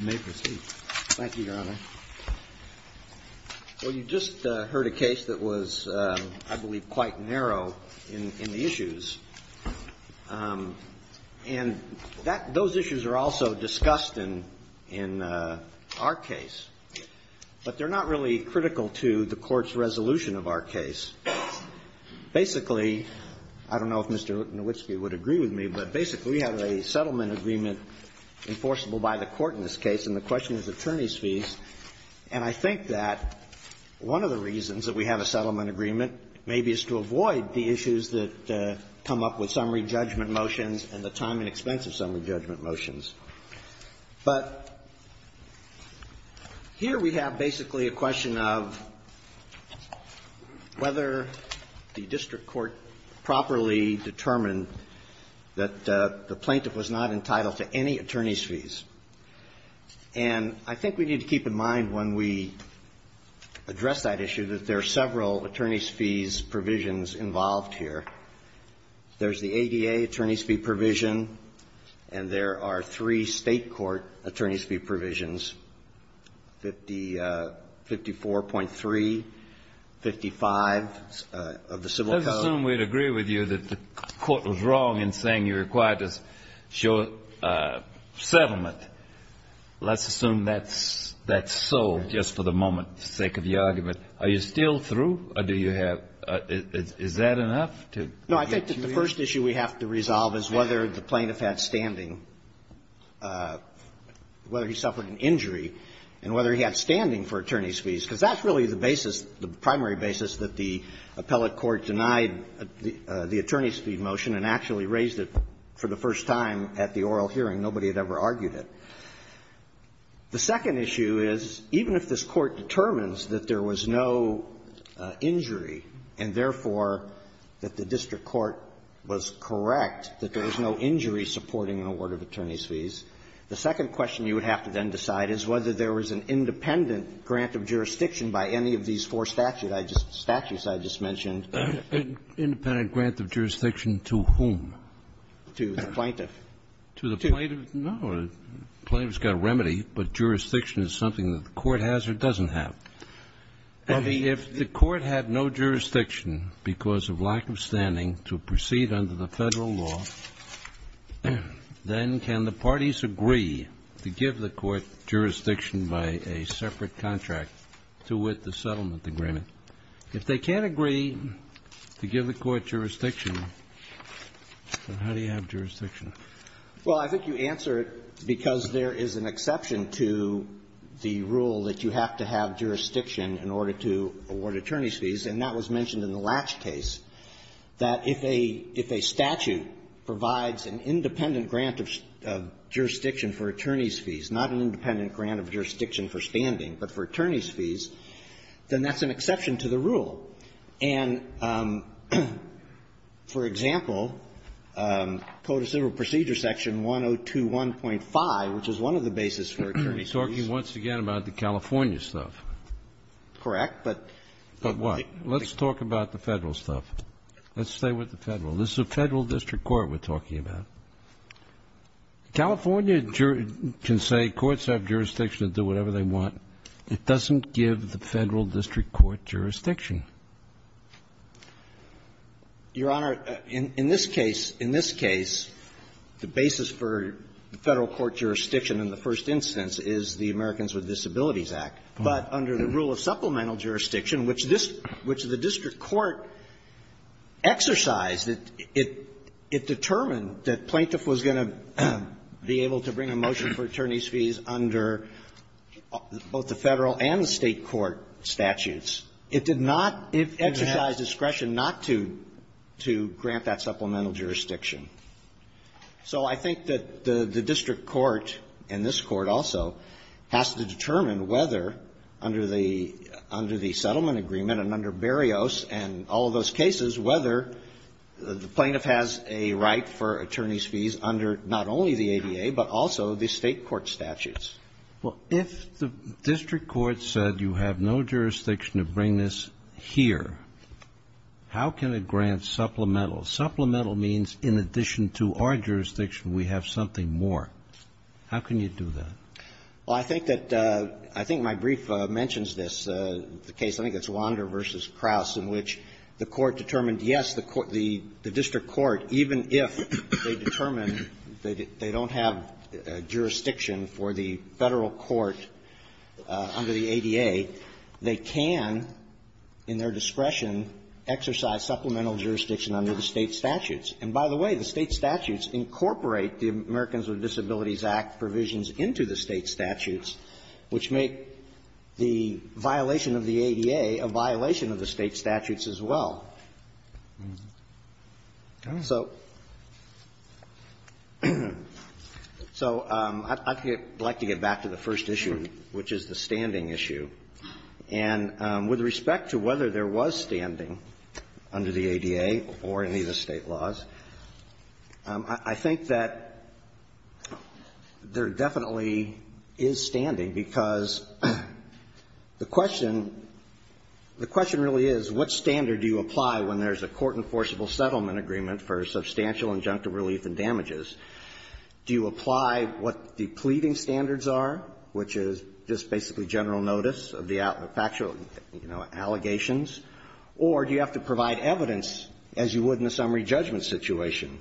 Thank you, Your Honor. Well, you just heard a case that was, I believe, quite narrow in the issues, and those issues are also discussed in our case, but they're not really critical to the Court's resolution of our case. Basically, I don't know if Mr. Nowitzki would agree with me, but basically, we have a settlement agreement enforceable by the Court in this case, and the question is attorneys' fees, and I think that one of the reasons that we have a settlement agreement maybe is to avoid the issues that come up with summary judgment motions and the time and expense of summary judgment motions. But here we have basically a question of whether the district court properly determined that the plaintiff was not entitled to any attorneys' fees, and I think we need to keep in mind when we address that issue that there are several attorneys' fees provisions involved here. There's the ADA attorney's fee provision, and there are three state court attorney's fee provisions, 54.3, 55 of the Civil Code. Kennedy, let's assume we'd agree with you that the Court was wrong in saying you're required to show settlement. Let's assume that's sold just for the moment's sake of the argument. Are you still through, or do you have – is that enough to get to me? No, I think that the first issue we have to resolve is whether the plaintiff had standing, whether he suffered an injury, and whether he had standing for attorneys' fees, because that's really the basis, the primary basis, that the appellate court denied the plaintiff had standing. The attorneys' fee motion, and actually raised it for the first time at the oral hearing. Nobody had ever argued it. The second issue is, even if this Court determines that there was no injury, and therefore that the district court was correct, that there was no injury supporting an award of attorneys' fees, the second question you would have to then decide is whether there was an independent grant of jurisdiction by any of these four statutes I just mentioned. An independent grant of jurisdiction to whom? To the plaintiff. To the plaintiff? No, the plaintiff's got a remedy, but jurisdiction is something that the Court has or doesn't have. If the Court had no jurisdiction because of lack of standing to proceed under the Federal law, then can the parties agree to give the Court jurisdiction by a separate contract to with the settlement agreement? If they can't agree to give the Court jurisdiction, then how do you have jurisdiction? Well, I think you answer it because there is an exception to the rule that you have to have jurisdiction in order to award attorneys' fees, and that was mentioned in the Latch case, that if a statute provides an independent grant of jurisdiction for attorneys' fees, not an independent grant of jurisdiction for standing, but for attorneys' fees, then that's an exception to the rule. And, for example, Code of Civil Procedure Section 1021.5, which is one of the basis for attorneys' fees. You're talking once again about the California stuff. Correct. But why? Let's talk about the Federal stuff. Let's stay with the Federal. This is a Federal district court we're talking about. California can say courts have jurisdiction to do whatever they want. It doesn't give the Federal district court jurisdiction. Your Honor, in this case, in this case, the basis for Federal court jurisdiction in the first instance is the Americans with Disabilities Act. But under the rule of supplemental jurisdiction, which this – which the district court exercised, it determined that plaintiff was going to be able to bring a motion for attorneys' fees under both the Federal and the State court statutes. It did not exercise discretion not to grant that supplemental jurisdiction. So I think that the district court, and this court also, has to determine whether, under the – under the settlement agreement and under Barrios, and under all of those cases, whether the plaintiff has a right for attorneys' fees under not only the ADA, but also the State court statutes. Well, if the district court said you have no jurisdiction to bring this here, how can it grant supplemental? Supplemental means in addition to our jurisdiction, we have something more. How can you do that? Well, I think that – I think my brief mentions this, the case, I think it's Wander v. Krause, in which the court determined, yes, the court – the district court, even if they determine that they don't have jurisdiction for the Federal court under the ADA, they can, in their discretion, exercise supplemental jurisdiction under the State statutes. And by the way, the State statutes incorporate the Americans with Disabilities Act provisions into the State statutes, which make the violation of the ADA a violation of the State statutes as well. So – so I'd like to get back to the first issue, which is the standing issue. And with respect to whether there was standing under the ADA or any of the State laws, I think that there definitely is standing, because the question – the question really is, what standard do you apply when there's a court-enforceable settlement agreement for substantial injunctive relief and damages? Do you apply what the pleading standards are, which is just basically general notice of the factual, you know, allegations? Or do you have to provide evidence as you would in a summary judgment situation?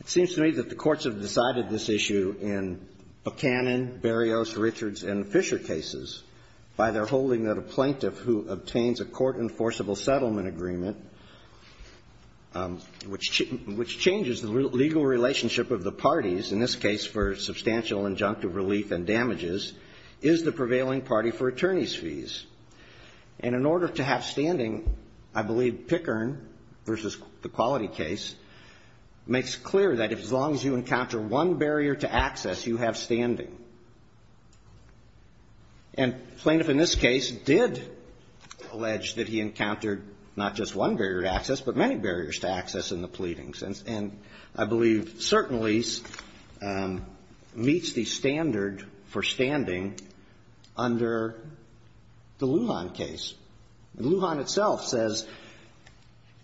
It seems to me that the courts have decided this issue in Buchanan, Berrios, Richards, and Fisher cases by their holding that a plaintiff who obtains a court-enforceable settlement agreement, which – which changes the legal relationship of the parties, in this case for substantial injunctive relief and damages, is the prevailing party for attorneys' fees. And in order to have standing, I believe Pickern v. the Quality case makes clear that as long as you encounter one barrier to access, you have standing. And the plaintiff in this case did allege that he encountered not just one barrier to access, but many barriers to access in the pleadings. And – and I believe certainly meets the standard for standing under the Lujan case. Lujan itself says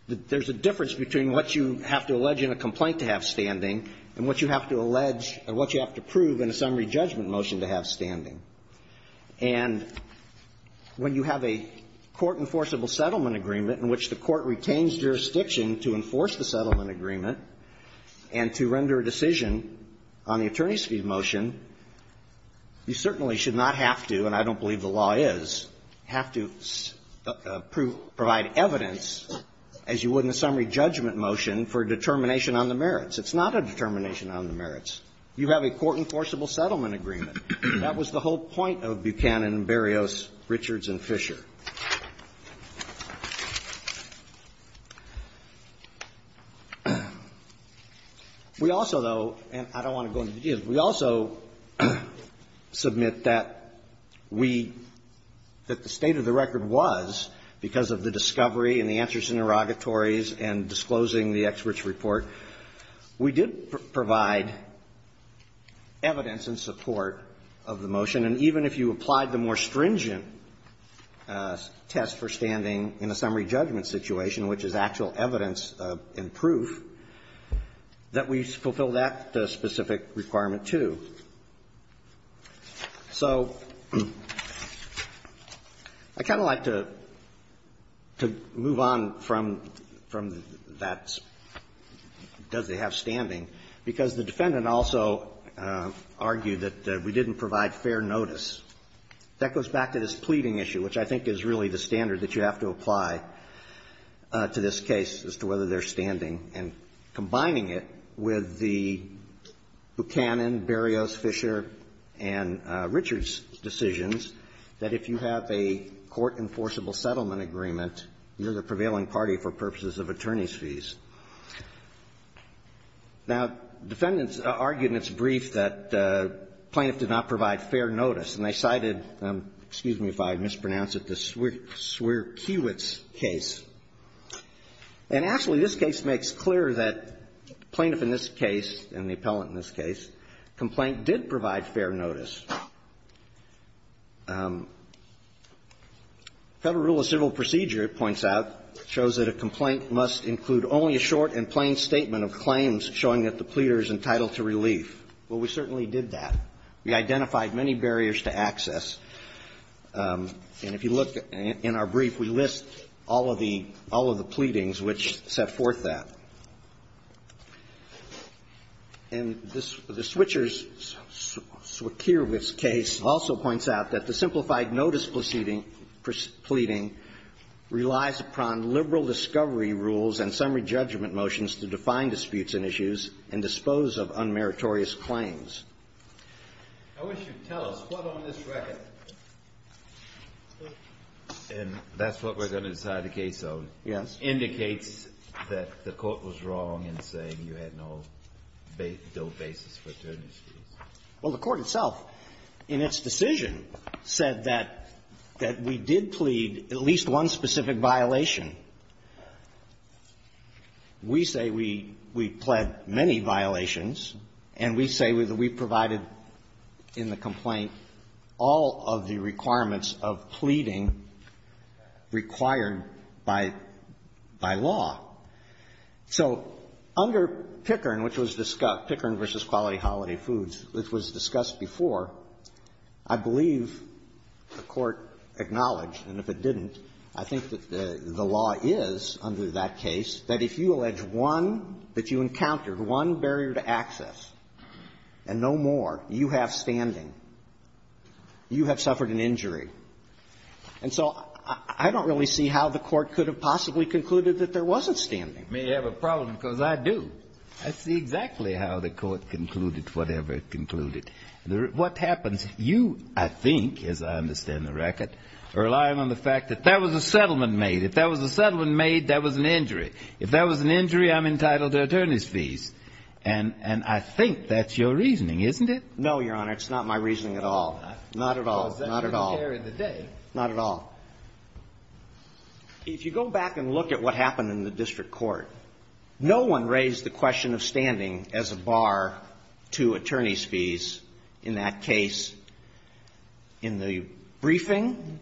that there's a difference between what you have to allege in a complaint to have standing and what you have to prove in a summary judgment motion to have standing. And when you have a court-enforceable settlement agreement in which the court retains jurisdiction to enforce the settlement agreement and to render a decision on the attorneys' fees motion, you certainly should not have to, and I don't believe the law is, have to provide evidence as you would in a summary judgment motion for determination on the merits. It's not a determination on the merits. You have a court-enforceable settlement agreement. That was the whole point of Buchanan and Berrios, Richards and Fisher. We also, though, and I don't want to go into details, we also submit that we – that the state of the record was, because of the discovery and the answers in interrogatories and disclosing the experts' report, that the state of the record we did provide evidence in support of the motion. And even if you applied the more stringent test for standing in a summary judgment situation, which is actual evidence and proof, that we fulfill that specific requirement, too. So I kind of like to move on from that, does it have standing because the defendant also argued that we didn't provide fair notice. That goes back to this pleading issue, which I think is really the standard that you have to apply to this case as to whether there's standing, and combining it with the Buchanan, Berrios, Fisher and Richards decisions that if you have a court-enforceable settlement agreement, you're the prevailing party for purposes of attorneys' fees. Now, defendants argued in its brief that plaintiff did not provide fair notice, and they cited, excuse me if I mispronounce it, the Swear-Kiwitz case. And actually, this case makes clear that plaintiff in this case, and the appellant in this case, complaint did provide fair notice. Federal Rule of Civil Procedure, it points out, shows that a complaint must include only a short and plain statement of claims showing that the pleader is entitled to relief. Well, we certainly did that. We identified many barriers to access. And if you look in our brief, we list all of the pleadings which set forth that. And the Switchers-Swear-Kiwitz case also points out that the simplified notice proceeding, pleading, relies upon liberal discovery rules and summary judgment motions to define disputes and issues and dispose of unmeritorious claims. I wish you'd tell us what on this record, and that's what we're going to decide the case on. Yes. Indicates that the court was wrong in saying you had no basis for attorneys' fees. Well, the court itself, in its decision, said that we did plead at least one specific violation. We say we pled many violations, and we say that we provided in the complaint all of the requirements of pleading required by law. So under Pickern, which was discussed, Pickern v. Quality Holiday Foods, which was discussed before, I believe the court acknowledged, and if it didn't, I think that the law is under that case that if you allege one that you encountered, one barrier to access and no more, you have standing. You have suffered an injury. And so I don't really see how the court could have possibly concluded that there wasn't standing. May have a problem, because I do. I see exactly how the court concluded whatever it concluded. What happens, you, I think, as I understand the record, are relying on the fact that that was a settlement made. If that was a settlement made, that was an injury. If that was an injury, I'm entitled to attorneys' fees. And I think that's your reasoning, isn't it? No, Your Honor. It's not my reasoning at all. Not at all. Not at all. If you go back and look at what happened in the district court, no one raised the question of standing as a bar to attorneys' fees in that case. In the briefing,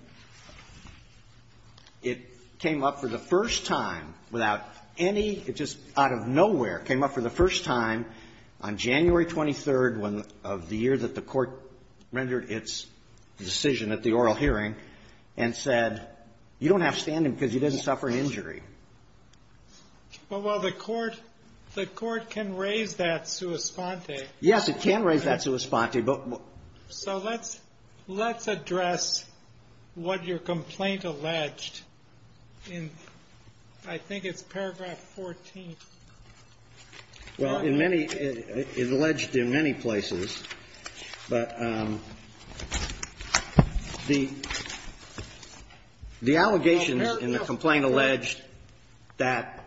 it came up for the first time without any, it just out of nowhere, came up for the first time on January 23rd of the year that the court rendered its decision at the oral hearing and said, you don't have standing because you didn't suffer an injury. Well, the court can raise that sua sponte. Yes, it can raise that sua sponte. So let's address what your complaint alleged in, I think it's paragraph 14. Well, in many, it alleged in many places, but the allegations in the complaint alleged that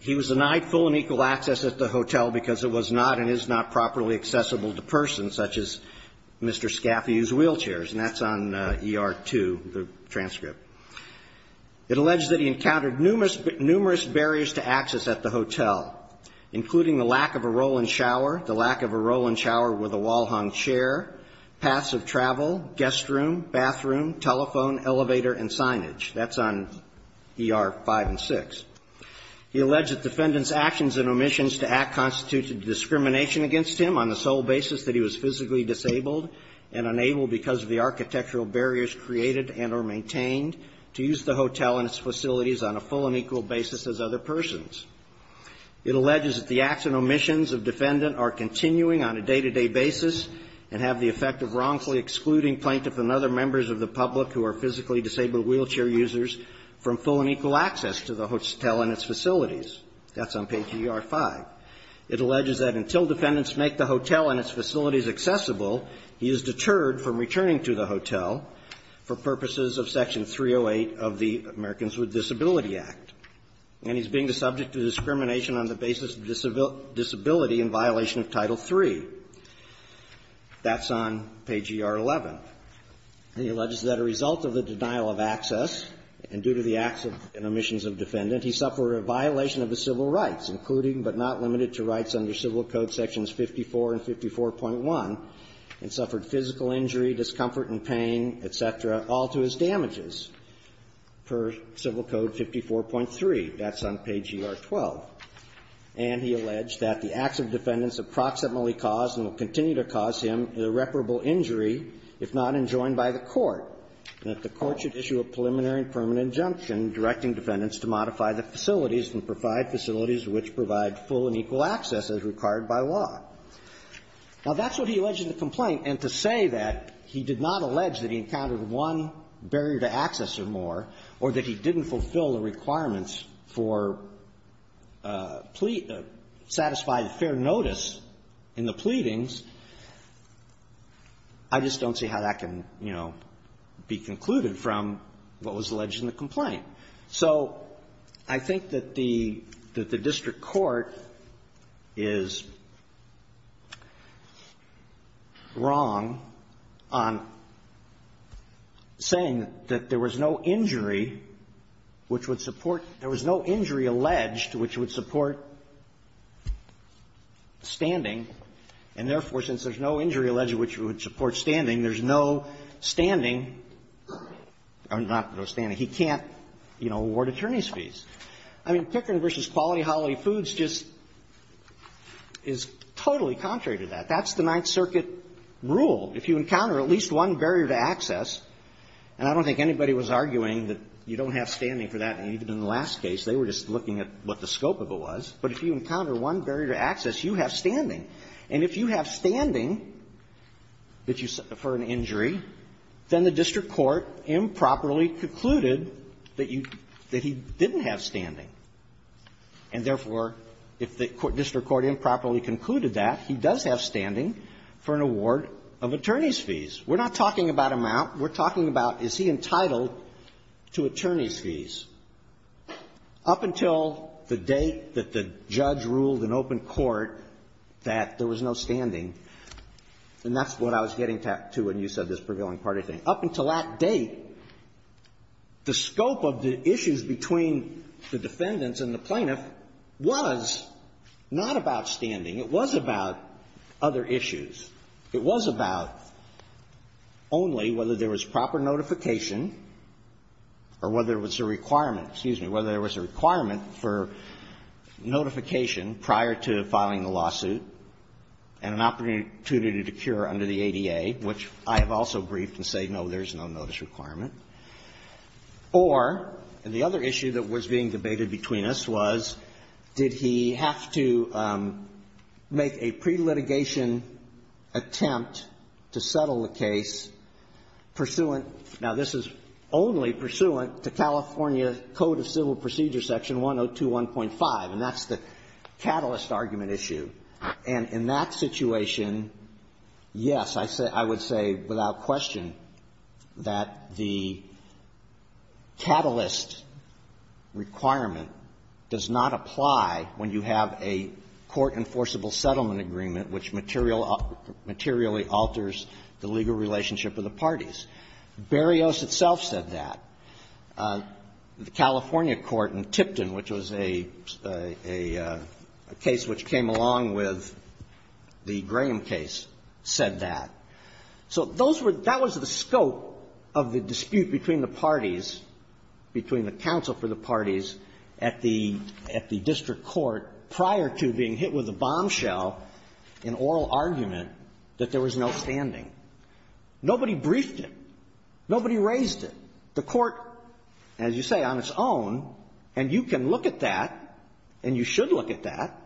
he was denied full and equal access at the hotel because it was not and is not properly accessible to persons such as Mr. Scaffi, whose wheelchair and that's on ER 2, the transcript. It alleged that he encountered numerous barriers to access at the hotel, including the lack of a roll-in shower, the lack of a roll-in shower with a wall-hung chair, passive travel, guest room, bathroom, telephone, elevator and signage. That's on ER 5 and 6. He alleged that defendants' actions and omissions to act constitute discrimination against him on the sole basis that he was physically disabled and unable, because of the architectural barriers created and or maintained, to use the hotel and its facilities on a full and equal basis as other persons. It alleges that the acts and omissions of defendant are continuing on a day-to-day basis and have the effect of wrongfully excluding plaintiff and other members of the public who are physically disabled wheelchair users from full and equal access to the hotel and its facilities. That's on page ER 5. It alleges that until defendants make the hotel and its facilities accessible, he is deterred from returning to the hotel for purposes of Section 308 of the Americans with Disability Act. And he's being the subject of discrimination on the basis of disability in violation of Title III. That's on page ER 11. He alleges that a result of the denial of access and due to the acts and omissions of defendant, he suffered a violation of the civil rights, including but not limited to rights under Civil Code Sections 54 and 54.1, and suffered physical injury, discomfort and pain, et cetera, all to his damages per Civil Code 54.3. That's on page ER 12. And he alleged that the acts of defendants approximately caused and will continue to cause him irreparable injury if not enjoined by the court, and that the court should issue a preliminary and permanent injunction directing defendants to modify the facilities and provide facilities which provide full and equal access as required by law. Now, that's what he alleged in the complaint. And to say that he did not allege that he encountered one barrier to access or more or that he didn't fulfill the requirements for plea to satisfy fair notice in the pleadings, I just don't see how that can, you know, be concluded from what was alleged in the complaint. So I think that the district court is wrong on saying that there was no injury which would support – there was no injury alleged which would support standing. And therefore, since there's no injury alleged which would support standing, there's no standing – or not no standing. He can't, you know, award attorney's fees. I mean, Pickering v. Quality Holiday Foods just is totally contrary to that. That's the Ninth Circuit rule. If you encounter at least one barrier to access – and I don't think anybody was arguing that you don't have standing for that, and even in the last case they were just looking at what the scope of it was – but if you encounter one barrier to access, you have standing. And if you have standing for an injury, then the district court improperly concluded that he didn't have standing. And therefore, if the district court improperly concluded that, he does have standing for an award of attorney's fees. We're not talking about amount. We're talking about is he entitled to attorney's fees. Up until the date that the judge ruled in open court that there was no standing – and that's what I was getting to when you said this prevailing party thing. Up until that date, the scope of the issues between the defendants and the plaintiff was not about standing. It was about other issues. It was about only whether there was proper notification or whether it was a requirement – excuse me – whether there was a requirement for notification prior to filing the lawsuit and an opportunity to cure under the ADA, which I have also briefed and say, no, there's no notice requirement. Or the other issue that was being debated between us was did he have to make a pre-litigation attempt to settle the case pursuant – now, this is only pursuant to California Code of Civil Procedure – the catalyst argument issue. And in that situation, yes, I would say without question that the catalyst requirement does not apply when you have a court-enforceable settlement agreement which materially alters the legal relationship of the parties. Berrios itself said that. The California court in Tipton, which was a, a, a, a, a, a case which came along with the Graham case, said that. So those were – that was the scope of the dispute between the parties, between the counsel for the parties at the, at the district court prior to being hit with a bombshell in oral argument that there was no standing. Nobody briefed it. Nobody raised it. The court, as you say, on its own, and you can look at that and you should look at that,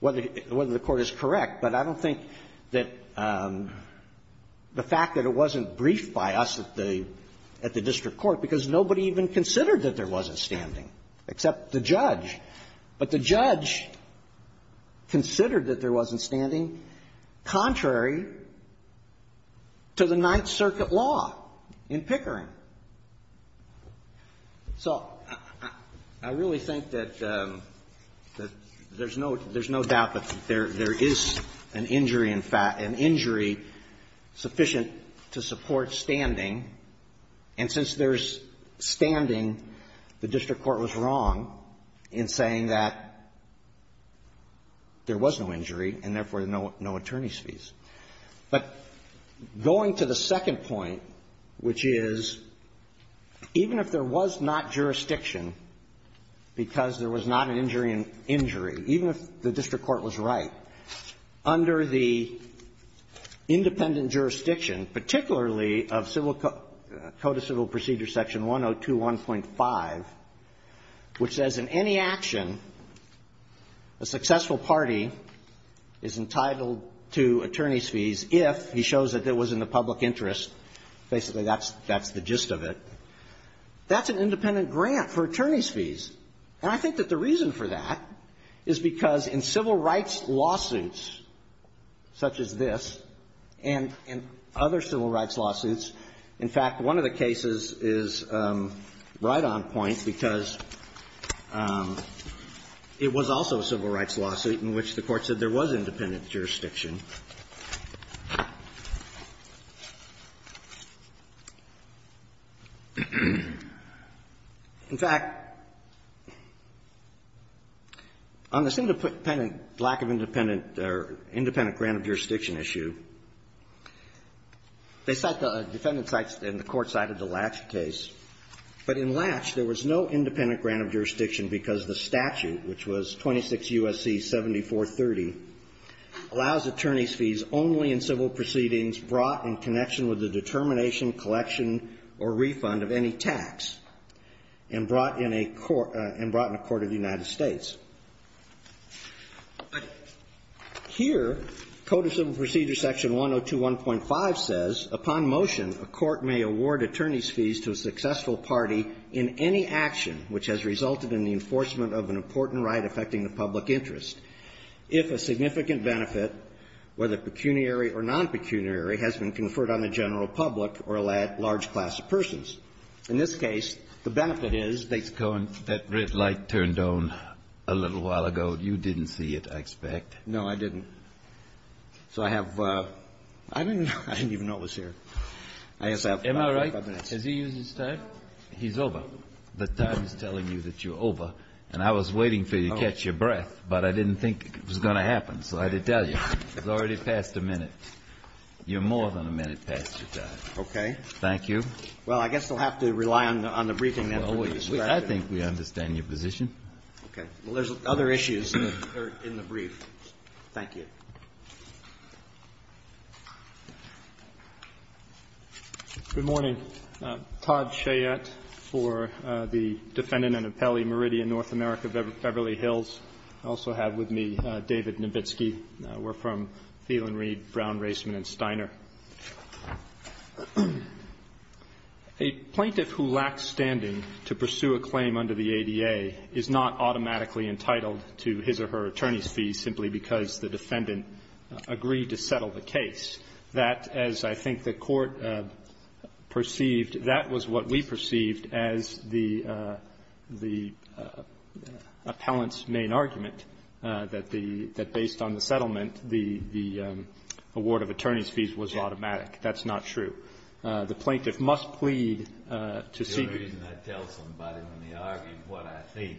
whether, whether the court is correct, but I don't think that the fact that it wasn't briefed by us at the, at the district court, because nobody even considered that there wasn't standing, except the judge. But the judge considered that there wasn't standing contrary to the Ninth Circuit law in Pickering. So I, I really think that, that there's no, there's no doubt that there, there is an injury in fact, an injury sufficient to support standing. And since there's standing, the district court was wrong in saying that there was no injury and, therefore, no, no attorney's fees. But going to the second point, which is, even if there was not jurisdiction, because there was not an injury in, injury, even if the district court was right, under the independent jurisdiction, particularly of Civil Code, Code of Civil Procedure Section 102.1.5, which says in any action, a successful party is entitled to attorney's fees if he shows that it was in the public interest, basically, that's, that's the gist of it, that's an independent grant for attorney's fees. And I think that the reason for that is because in civil rights lawsuits such as this and, and other civil rights lawsuits, in fact, one of the cases is right on point because it was also a civil rights lawsuit in which the Court said there was independent jurisdiction. In fact, on this independent, lack of independent, or independent grant of jurisdiction issue, they cite the defendant's rights and the Court cited the Latch case. But in Latch, there was no independent grant of jurisdiction because the statute, which was 26 U.S.C. 7430, allows attorney's fees only in civil proceedings brought in connection with the determination, collection, or refund of any tax and brought in a court, and brought in a court of the United States. Here, Code of Civil Procedure Section 102.1.5 says, upon motion, a court may award attorney's fees to a successful party in any action which has resulted in the enforcement of an important right affecting the public interest if a significant benefit, whether pecuniary or non-pecuniary, has been conferred on the general public or a large number of class of persons. In this case, the benefit is they've got a — Kennedy. That red light turned on a little while ago. You didn't see it, I expect. No, I didn't. So I have — I didn't even know it was here. I just have five minutes. Am I right? Has he used his time? He's over. The time is telling you that you're over. And I was waiting for you to catch your breath, but I didn't think it was going to happen, so I had to tell you. It's already past a minute. You're more than a minute past your time. Okay. Thank you. Well, I guess I'll have to rely on the briefing then for you, sir. I think we understand your position. Okay. Well, there's other issues that are in the brief. Thank you. Good morning. Todd Chayette for the defendant and appellee, Meridian, North America, Beverly Hills. I also have with me David Nowitzki. We're from Thielen, Reed, Brown, Raisman and Steiner. A plaintiff who lacks standing to pursue a claim under the ADA is not automatically entitled to his or her attorney's fees simply because the defendant agreed to settle the case. That, as I think the Court perceived, that was what we perceived as the case was automatic. That's not true. The plaintiff must plead to see me. The only reason I tell somebody when they argue what I think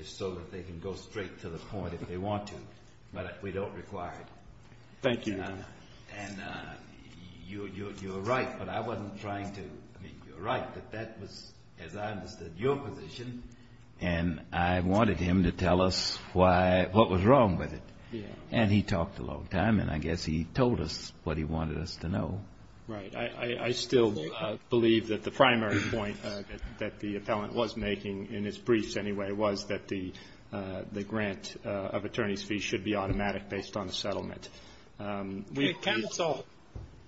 is so that they can go straight to the point if they want to, but we don't require it. Thank you. And you're right, but I wasn't trying to – I mean, you're right, but that was, as I understood your position, and I wanted him to tell us why – what was wrong with it. And he talked a long time, and I guess he told us what he wanted us to know. Right. I still believe that the primary point that the appellant was making in his briefs anyway was that the grant of attorney's fees should be automatic based on the settlement. Counsel,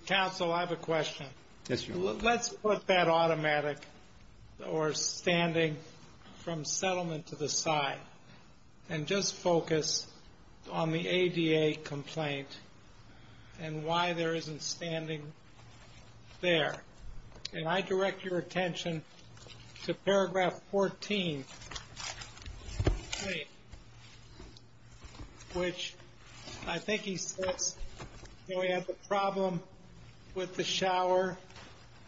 counsel, I have a question. Yes, Your Honor. So let's put that automatic or standing from settlement to the side and just focus on the ADA complaint and why there isn't standing there. And I direct your attention to paragraph 14, which I think he says, you know, we have a problem with the shower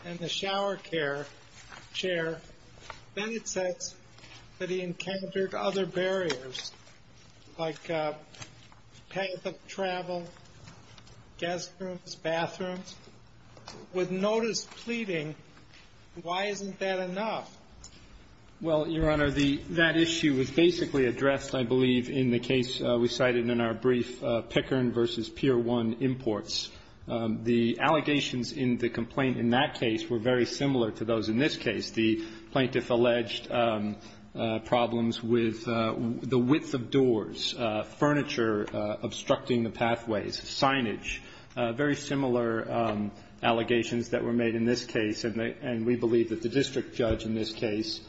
and the shower chair. Then it says that he encountered other barriers like path of travel, guest rooms, bathrooms. With notice pleading, why isn't that enough? Well, Your Honor, that issue was basically addressed, I believe, in the case we The allegations in the complaint in that case were very similar to those in this case. The plaintiff alleged problems with the width of doors, furniture obstructing the pathways, signage, very similar allegations that were made in this case, and we believe that the district judge in this case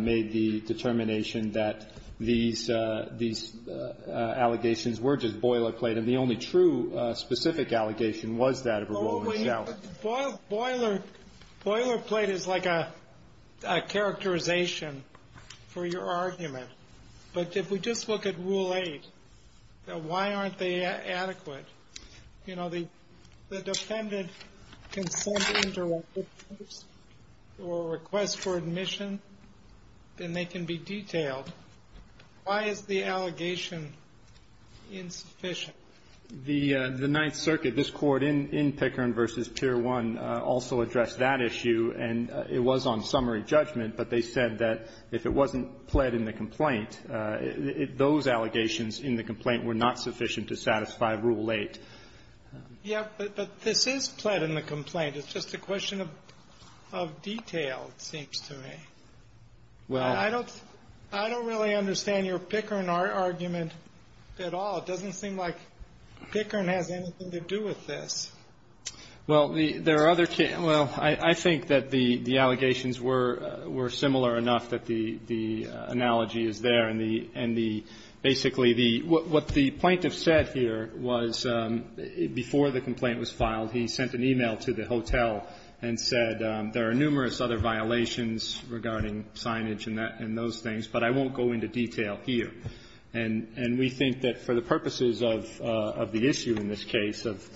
made the determination that these allegations were just boilerplate, and the only true specific allegation was that of a rolling shower. Boilerplate is like a characterization for your argument, but if we just look at Rule 8, why aren't they adequate? You know, the defendant can send in a request for admission, and they can be The Ninth Circuit, this court in Pickering v. Pier 1 also addressed that issue, and it was on summary judgment, but they said that if it wasn't pled in the complaint, those allegations in the complaint were not sufficient to satisfy Rule 8. Yeah, but this is pled in the complaint. It's just a question of detail, it seems to me. I don't really understand your Pickering argument at all. It doesn't seem like Pickering has anything to do with this. Well, I think that the allegations were similar enough that the analogy is there, and basically what the plaintiff said here was, before the complaint was filed, he and those things, but I won't go into detail here. And we think that for the purposes of the issue in this case of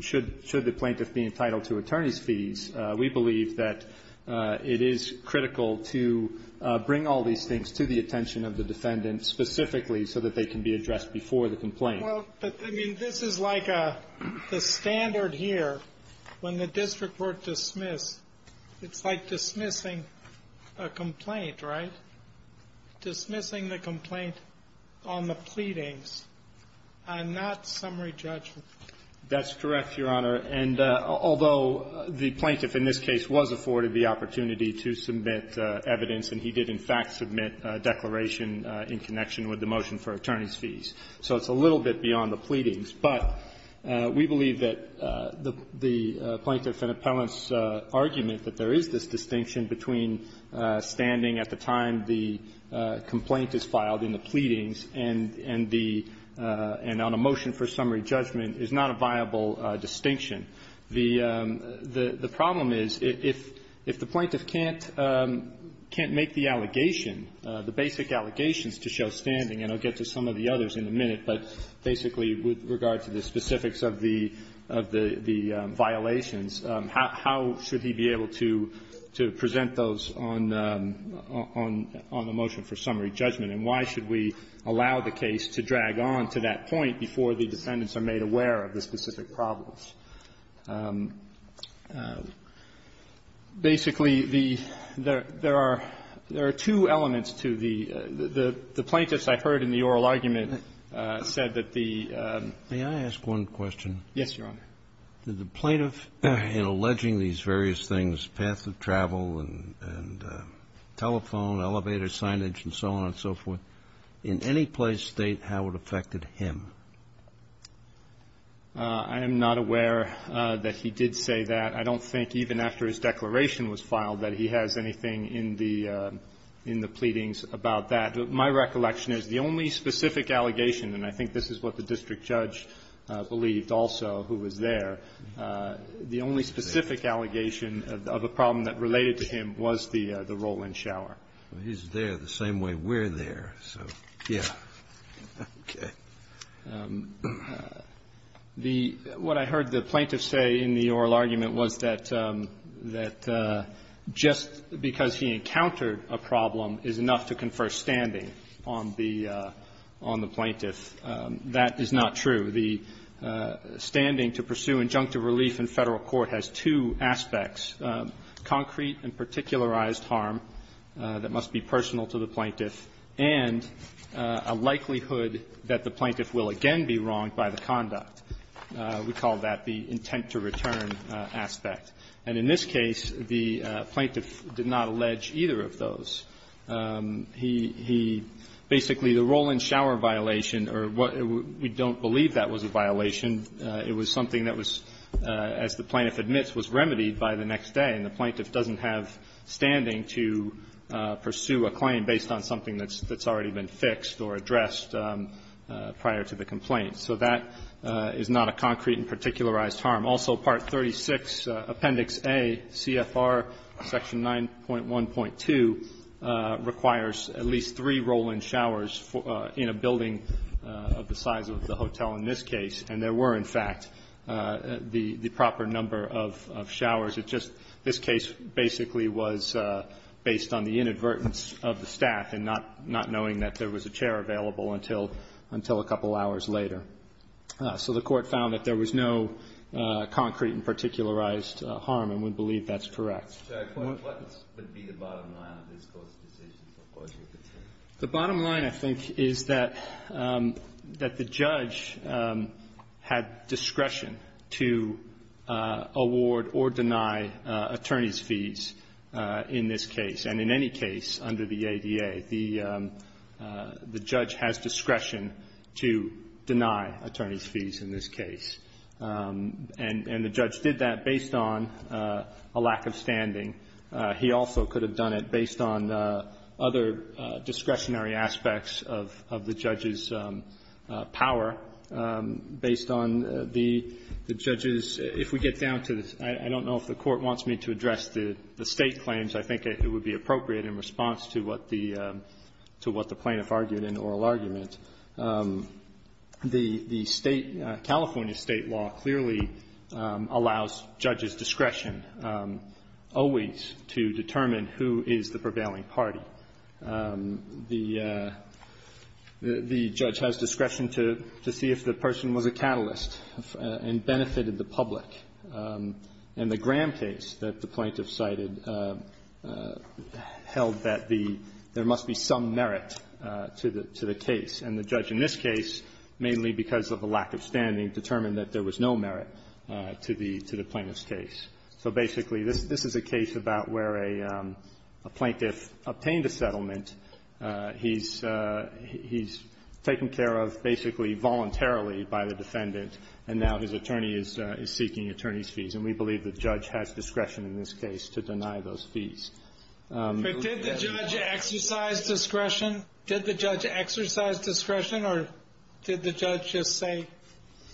should the plaintiff be entitled to attorney's fees, we believe that it is critical to bring all these things to the attention of the defendant specifically so that they can be addressed before the complaint. Well, but, I mean, this is like the standard here. When the district were dismissed, it's like dismissing a complaint, right? Dismissing the complaint on the pleadings and not summary judgment. That's correct, Your Honor. And although the plaintiff in this case was afforded the opportunity to submit evidence, and he did, in fact, submit a declaration in connection with the motion for attorney's fees, so it's a little bit beyond the pleadings. But we believe that the plaintiff and appellant's argument that there is this distinction between standing at the time the complaint is filed in the pleadings and the – and on a motion for summary judgment is not a viable distinction. The problem is if the plaintiff can't make the allegation, the basic allegations to show standing, and I'll get to some of the others in a minute, but basically with regard to the specifics of the violations, how should he be able to present those on the motion for summary judgment, and why should we allow the case to drag on to that point before the defendants are made aware of the specific problems? Basically, the – there are two elements to the – the plaintiffs, I heard in the May I ask one question? Yes, Your Honor. Did the plaintiff, in alleging these various things, path of travel and telephone, elevator signage and so on and so forth, in any place state how it affected him? I am not aware that he did say that. I don't think even after his declaration was filed that he has anything in the – in the pleadings about that. My recollection is the only specific allegation, and I think this is what the district judge believed also who was there, the only specific allegation of a problem that related to him was the roll-in shower. Well, he's there the same way we're there. So, yes. Okay. The – what I heard the plaintiff say in the oral argument was that just because he encountered a problem is enough to confer standing on the – on the plaintiff. That is not true. The standing to pursue injunctive relief in Federal court has two aspects, concrete and particularized harm that must be personal to the plaintiff, and a likelihood that the plaintiff will again be wronged by the conduct. We call that the intent-to-return aspect. And in this case, the plaintiff did not allege either of those. He – he – basically, the roll-in shower violation, or what – we don't believe that was a violation. It was something that was, as the plaintiff admits, was remedied by the next day. And the plaintiff doesn't have standing to pursue a claim based on something that's already been fixed or addressed prior to the complaint. So that is not a concrete and particularized harm. Also, Part 36, Appendix A, CFR Section 9.1.2 requires at least three roll-in showers in a building of the size of the hotel in this case. And there were, in fact, the – the proper number of – of showers. It just – this case basically was based on the inadvertence of the staff and not – not knowing that there was a chair available until – until a couple hours later. So the Court found that there was no concrete and particularized harm, and we believe that's correct. The bottom line, I think, is that – that the judge had discretion to award or deny attorney's fees in this case. And in any case under the ADA, the – the judge has discretion to deny attorney's fees in this case. And – and the judge did that based on a lack of standing. He also could have done it based on other discretionary aspects of – of the judge's power, based on the judge's – if we get down to the – I don't know if the Court wants me to address the State claims. I think it would be appropriate in response to what the – to what the plaintiff argued in oral argument. The – the State – California State law clearly allows judges discretion always to determine who is the prevailing party. The – the judge has discretion to – to see if the person was a catalyst and benefited the public. And the Graham case that the plaintiff cited held that the – there must be some merit to the – to the case. And the judge in this case, mainly because of a lack of standing, determined that there was no merit to the – to the plaintiff's case. So basically, this – this is a case about where a plaintiff obtained a settlement. He's – he's taken care of basically voluntarily by the defendant, and now his attorney's fees. And we believe the judge has discretion in this case to deny those fees. But did the judge exercise discretion? Did the judge exercise discretion, or did the judge just say,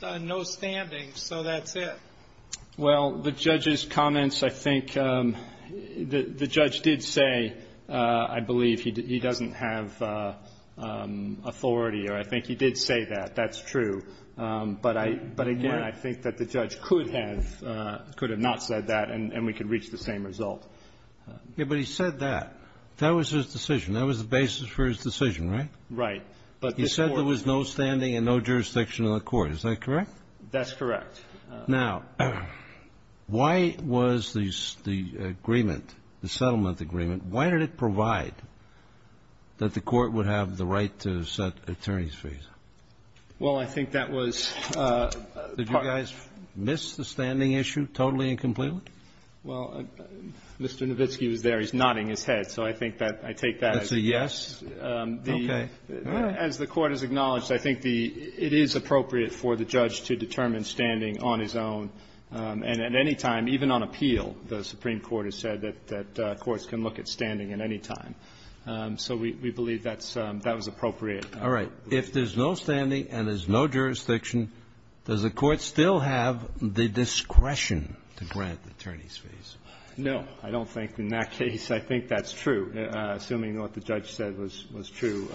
no standing, so that's it? Well, the judge's comments, I think – the judge did say, I believe, he doesn't have authority, or I think he did say that. That's true. But I – but again, I think that the judge could have – could have not said that, and we could reach the same result. Yeah, but he said that. That was his decision. That was the basis for his decision, right? Right. But this Court – He said there was no standing and no jurisdiction in the Court. Is that correct? That's correct. Now, why was the – the agreement, the settlement agreement, why did it provide that the Court would have the right to set attorney's fees? Well, I think that was part of it. Did you guys miss the standing issue totally and completely? Well, Mr. Nowitzki was there. He's nodding his head. So I think that – I take that as a yes. Okay. As the Court has acknowledged, I think the – it is appropriate for the judge to determine standing on his own and at any time, even on appeal. The Supreme Court has said that courts can look at standing at any time. So we believe that's – that was appropriate. All right. If there's no standing and there's no jurisdiction, does the Court still have the discretion to grant the attorney's fees? No, I don't think in that case. I think that's true. Assuming what the judge said was true,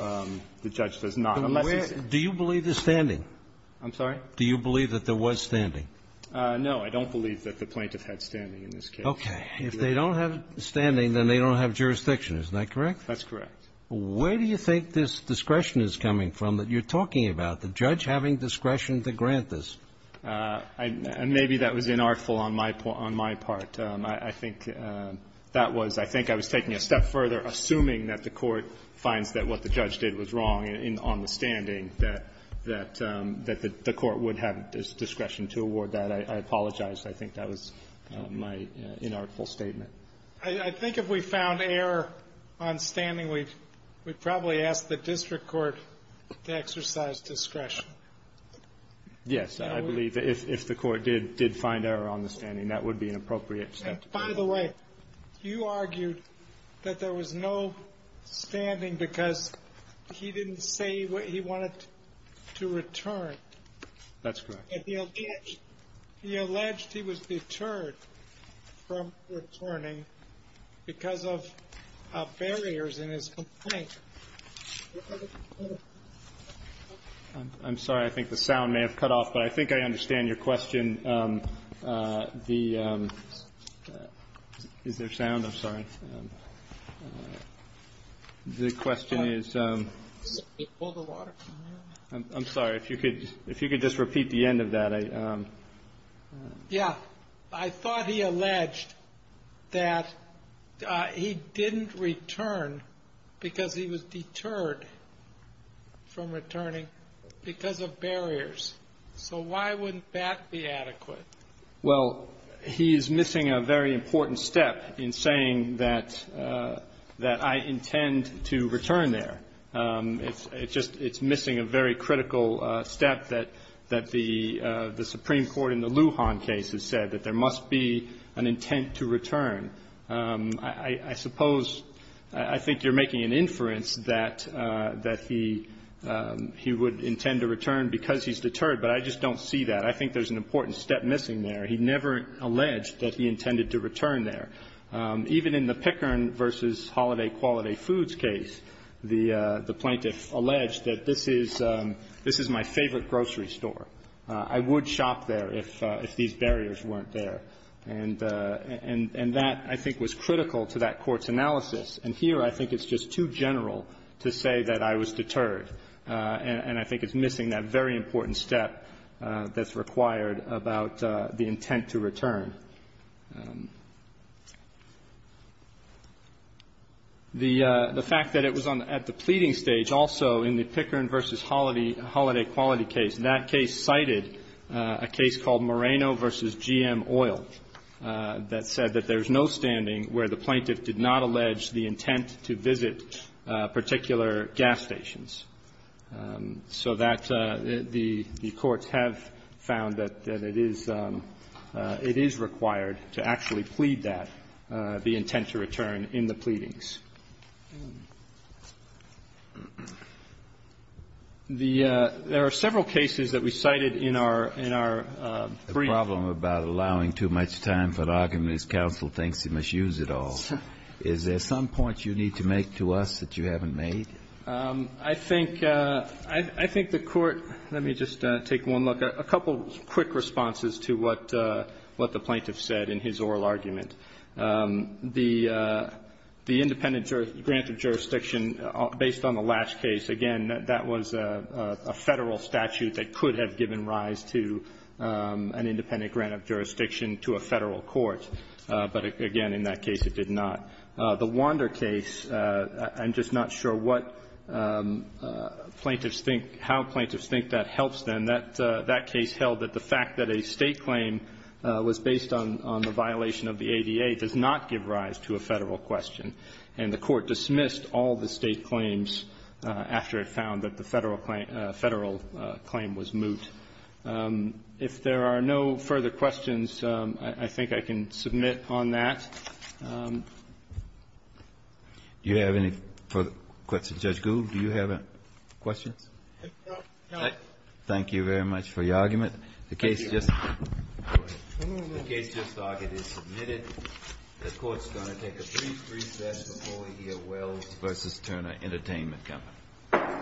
the judge does not, unless he's – Do you believe there's standing? I'm sorry? Do you believe that there was standing? No. I don't believe that the plaintiff had standing in this case. Okay. If they don't have standing, then they don't have jurisdiction. Isn't that correct? That's correct. Where do you think this discretion is coming from that you're talking about, the judge having discretion to grant this? Maybe that was inartful on my part. I think that was – I think I was taking a step further, assuming that the Court finds that what the judge did was wrong on the standing, that the Court would have discretion to award that. I apologize. I think that was my inartful statement. I think if we found error on standing, we'd probably ask the district court to exercise discretion. Yes. I believe that if the Court did find error on the standing, that would be an appropriate step to take. And by the way, you argued that there was no standing because he didn't say what he wanted to return. That's correct. He alleged he was deterred from returning because of barriers in his complaint. I'm sorry. I think the sound may have cut off, but I think I understand your question. The – is there sound? I'm sorry. The question is – I'm sorry. If you could just repeat the end of that. Yeah. I thought he alleged that he didn't return because he was deterred from returning because of barriers. So why wouldn't that be adequate? Well, he is missing a very important step in saying that I intend to return there. It's just – it's missing a very critical step that the Supreme Court in the Lujan case has said, that there must be an intent to return. I suppose – I think you're making an inference that he would intend to return because he's deterred, but I just don't see that. I think there's an important step missing there. He never alleged that he intended to return there. Even in the Pickern v. Holiday Quality Foods case, the plaintiff alleged that this is – this is my favorite grocery store. I would shop there if these barriers weren't there. And that, I think, was critical to that court's analysis. And here I think it's just too general to say that I was deterred. And I think it's missing that very important step that's required about the intent to return. The fact that it was on – at the pleading stage also in the Pickern v. Holiday Quality case, that case cited a case called Moreno v. GM Oil that said that there's no standing where the plaintiff did not allege the intent to visit particular gas stations. So that – the courts have found that it is – it is required that the plaintiff is required to actually plead that, the intent to return in the pleadings. The – there are several cases that we cited in our – in our brief. The problem about allowing too much time for an argument is counsel thinks he must use it all. Is there some point you need to make to us that you haven't made? I think – I think the court – let me just take one look. There are a couple quick responses to what the plaintiff said in his oral argument. The independent grant of jurisdiction, based on the Lash case, again, that was a Federal statute that could have given rise to an independent grant of jurisdiction to a Federal court. But, again, in that case it did not. The Wander case, I'm just not sure what plaintiffs think – how plaintiffs think that helps them. And that case held that the fact that a State claim was based on the violation of the ADA does not give rise to a Federal question. And the court dismissed all the State claims after it found that the Federal claim was moot. If there are no further questions, I think I can submit on that. Do you have any further questions? Judge Gould, do you have questions? No. Thank you very much for your argument. The case just – the case just argued is submitted. The court is going to take a brief recess before we hear Wells v. Turner Entertainment Company.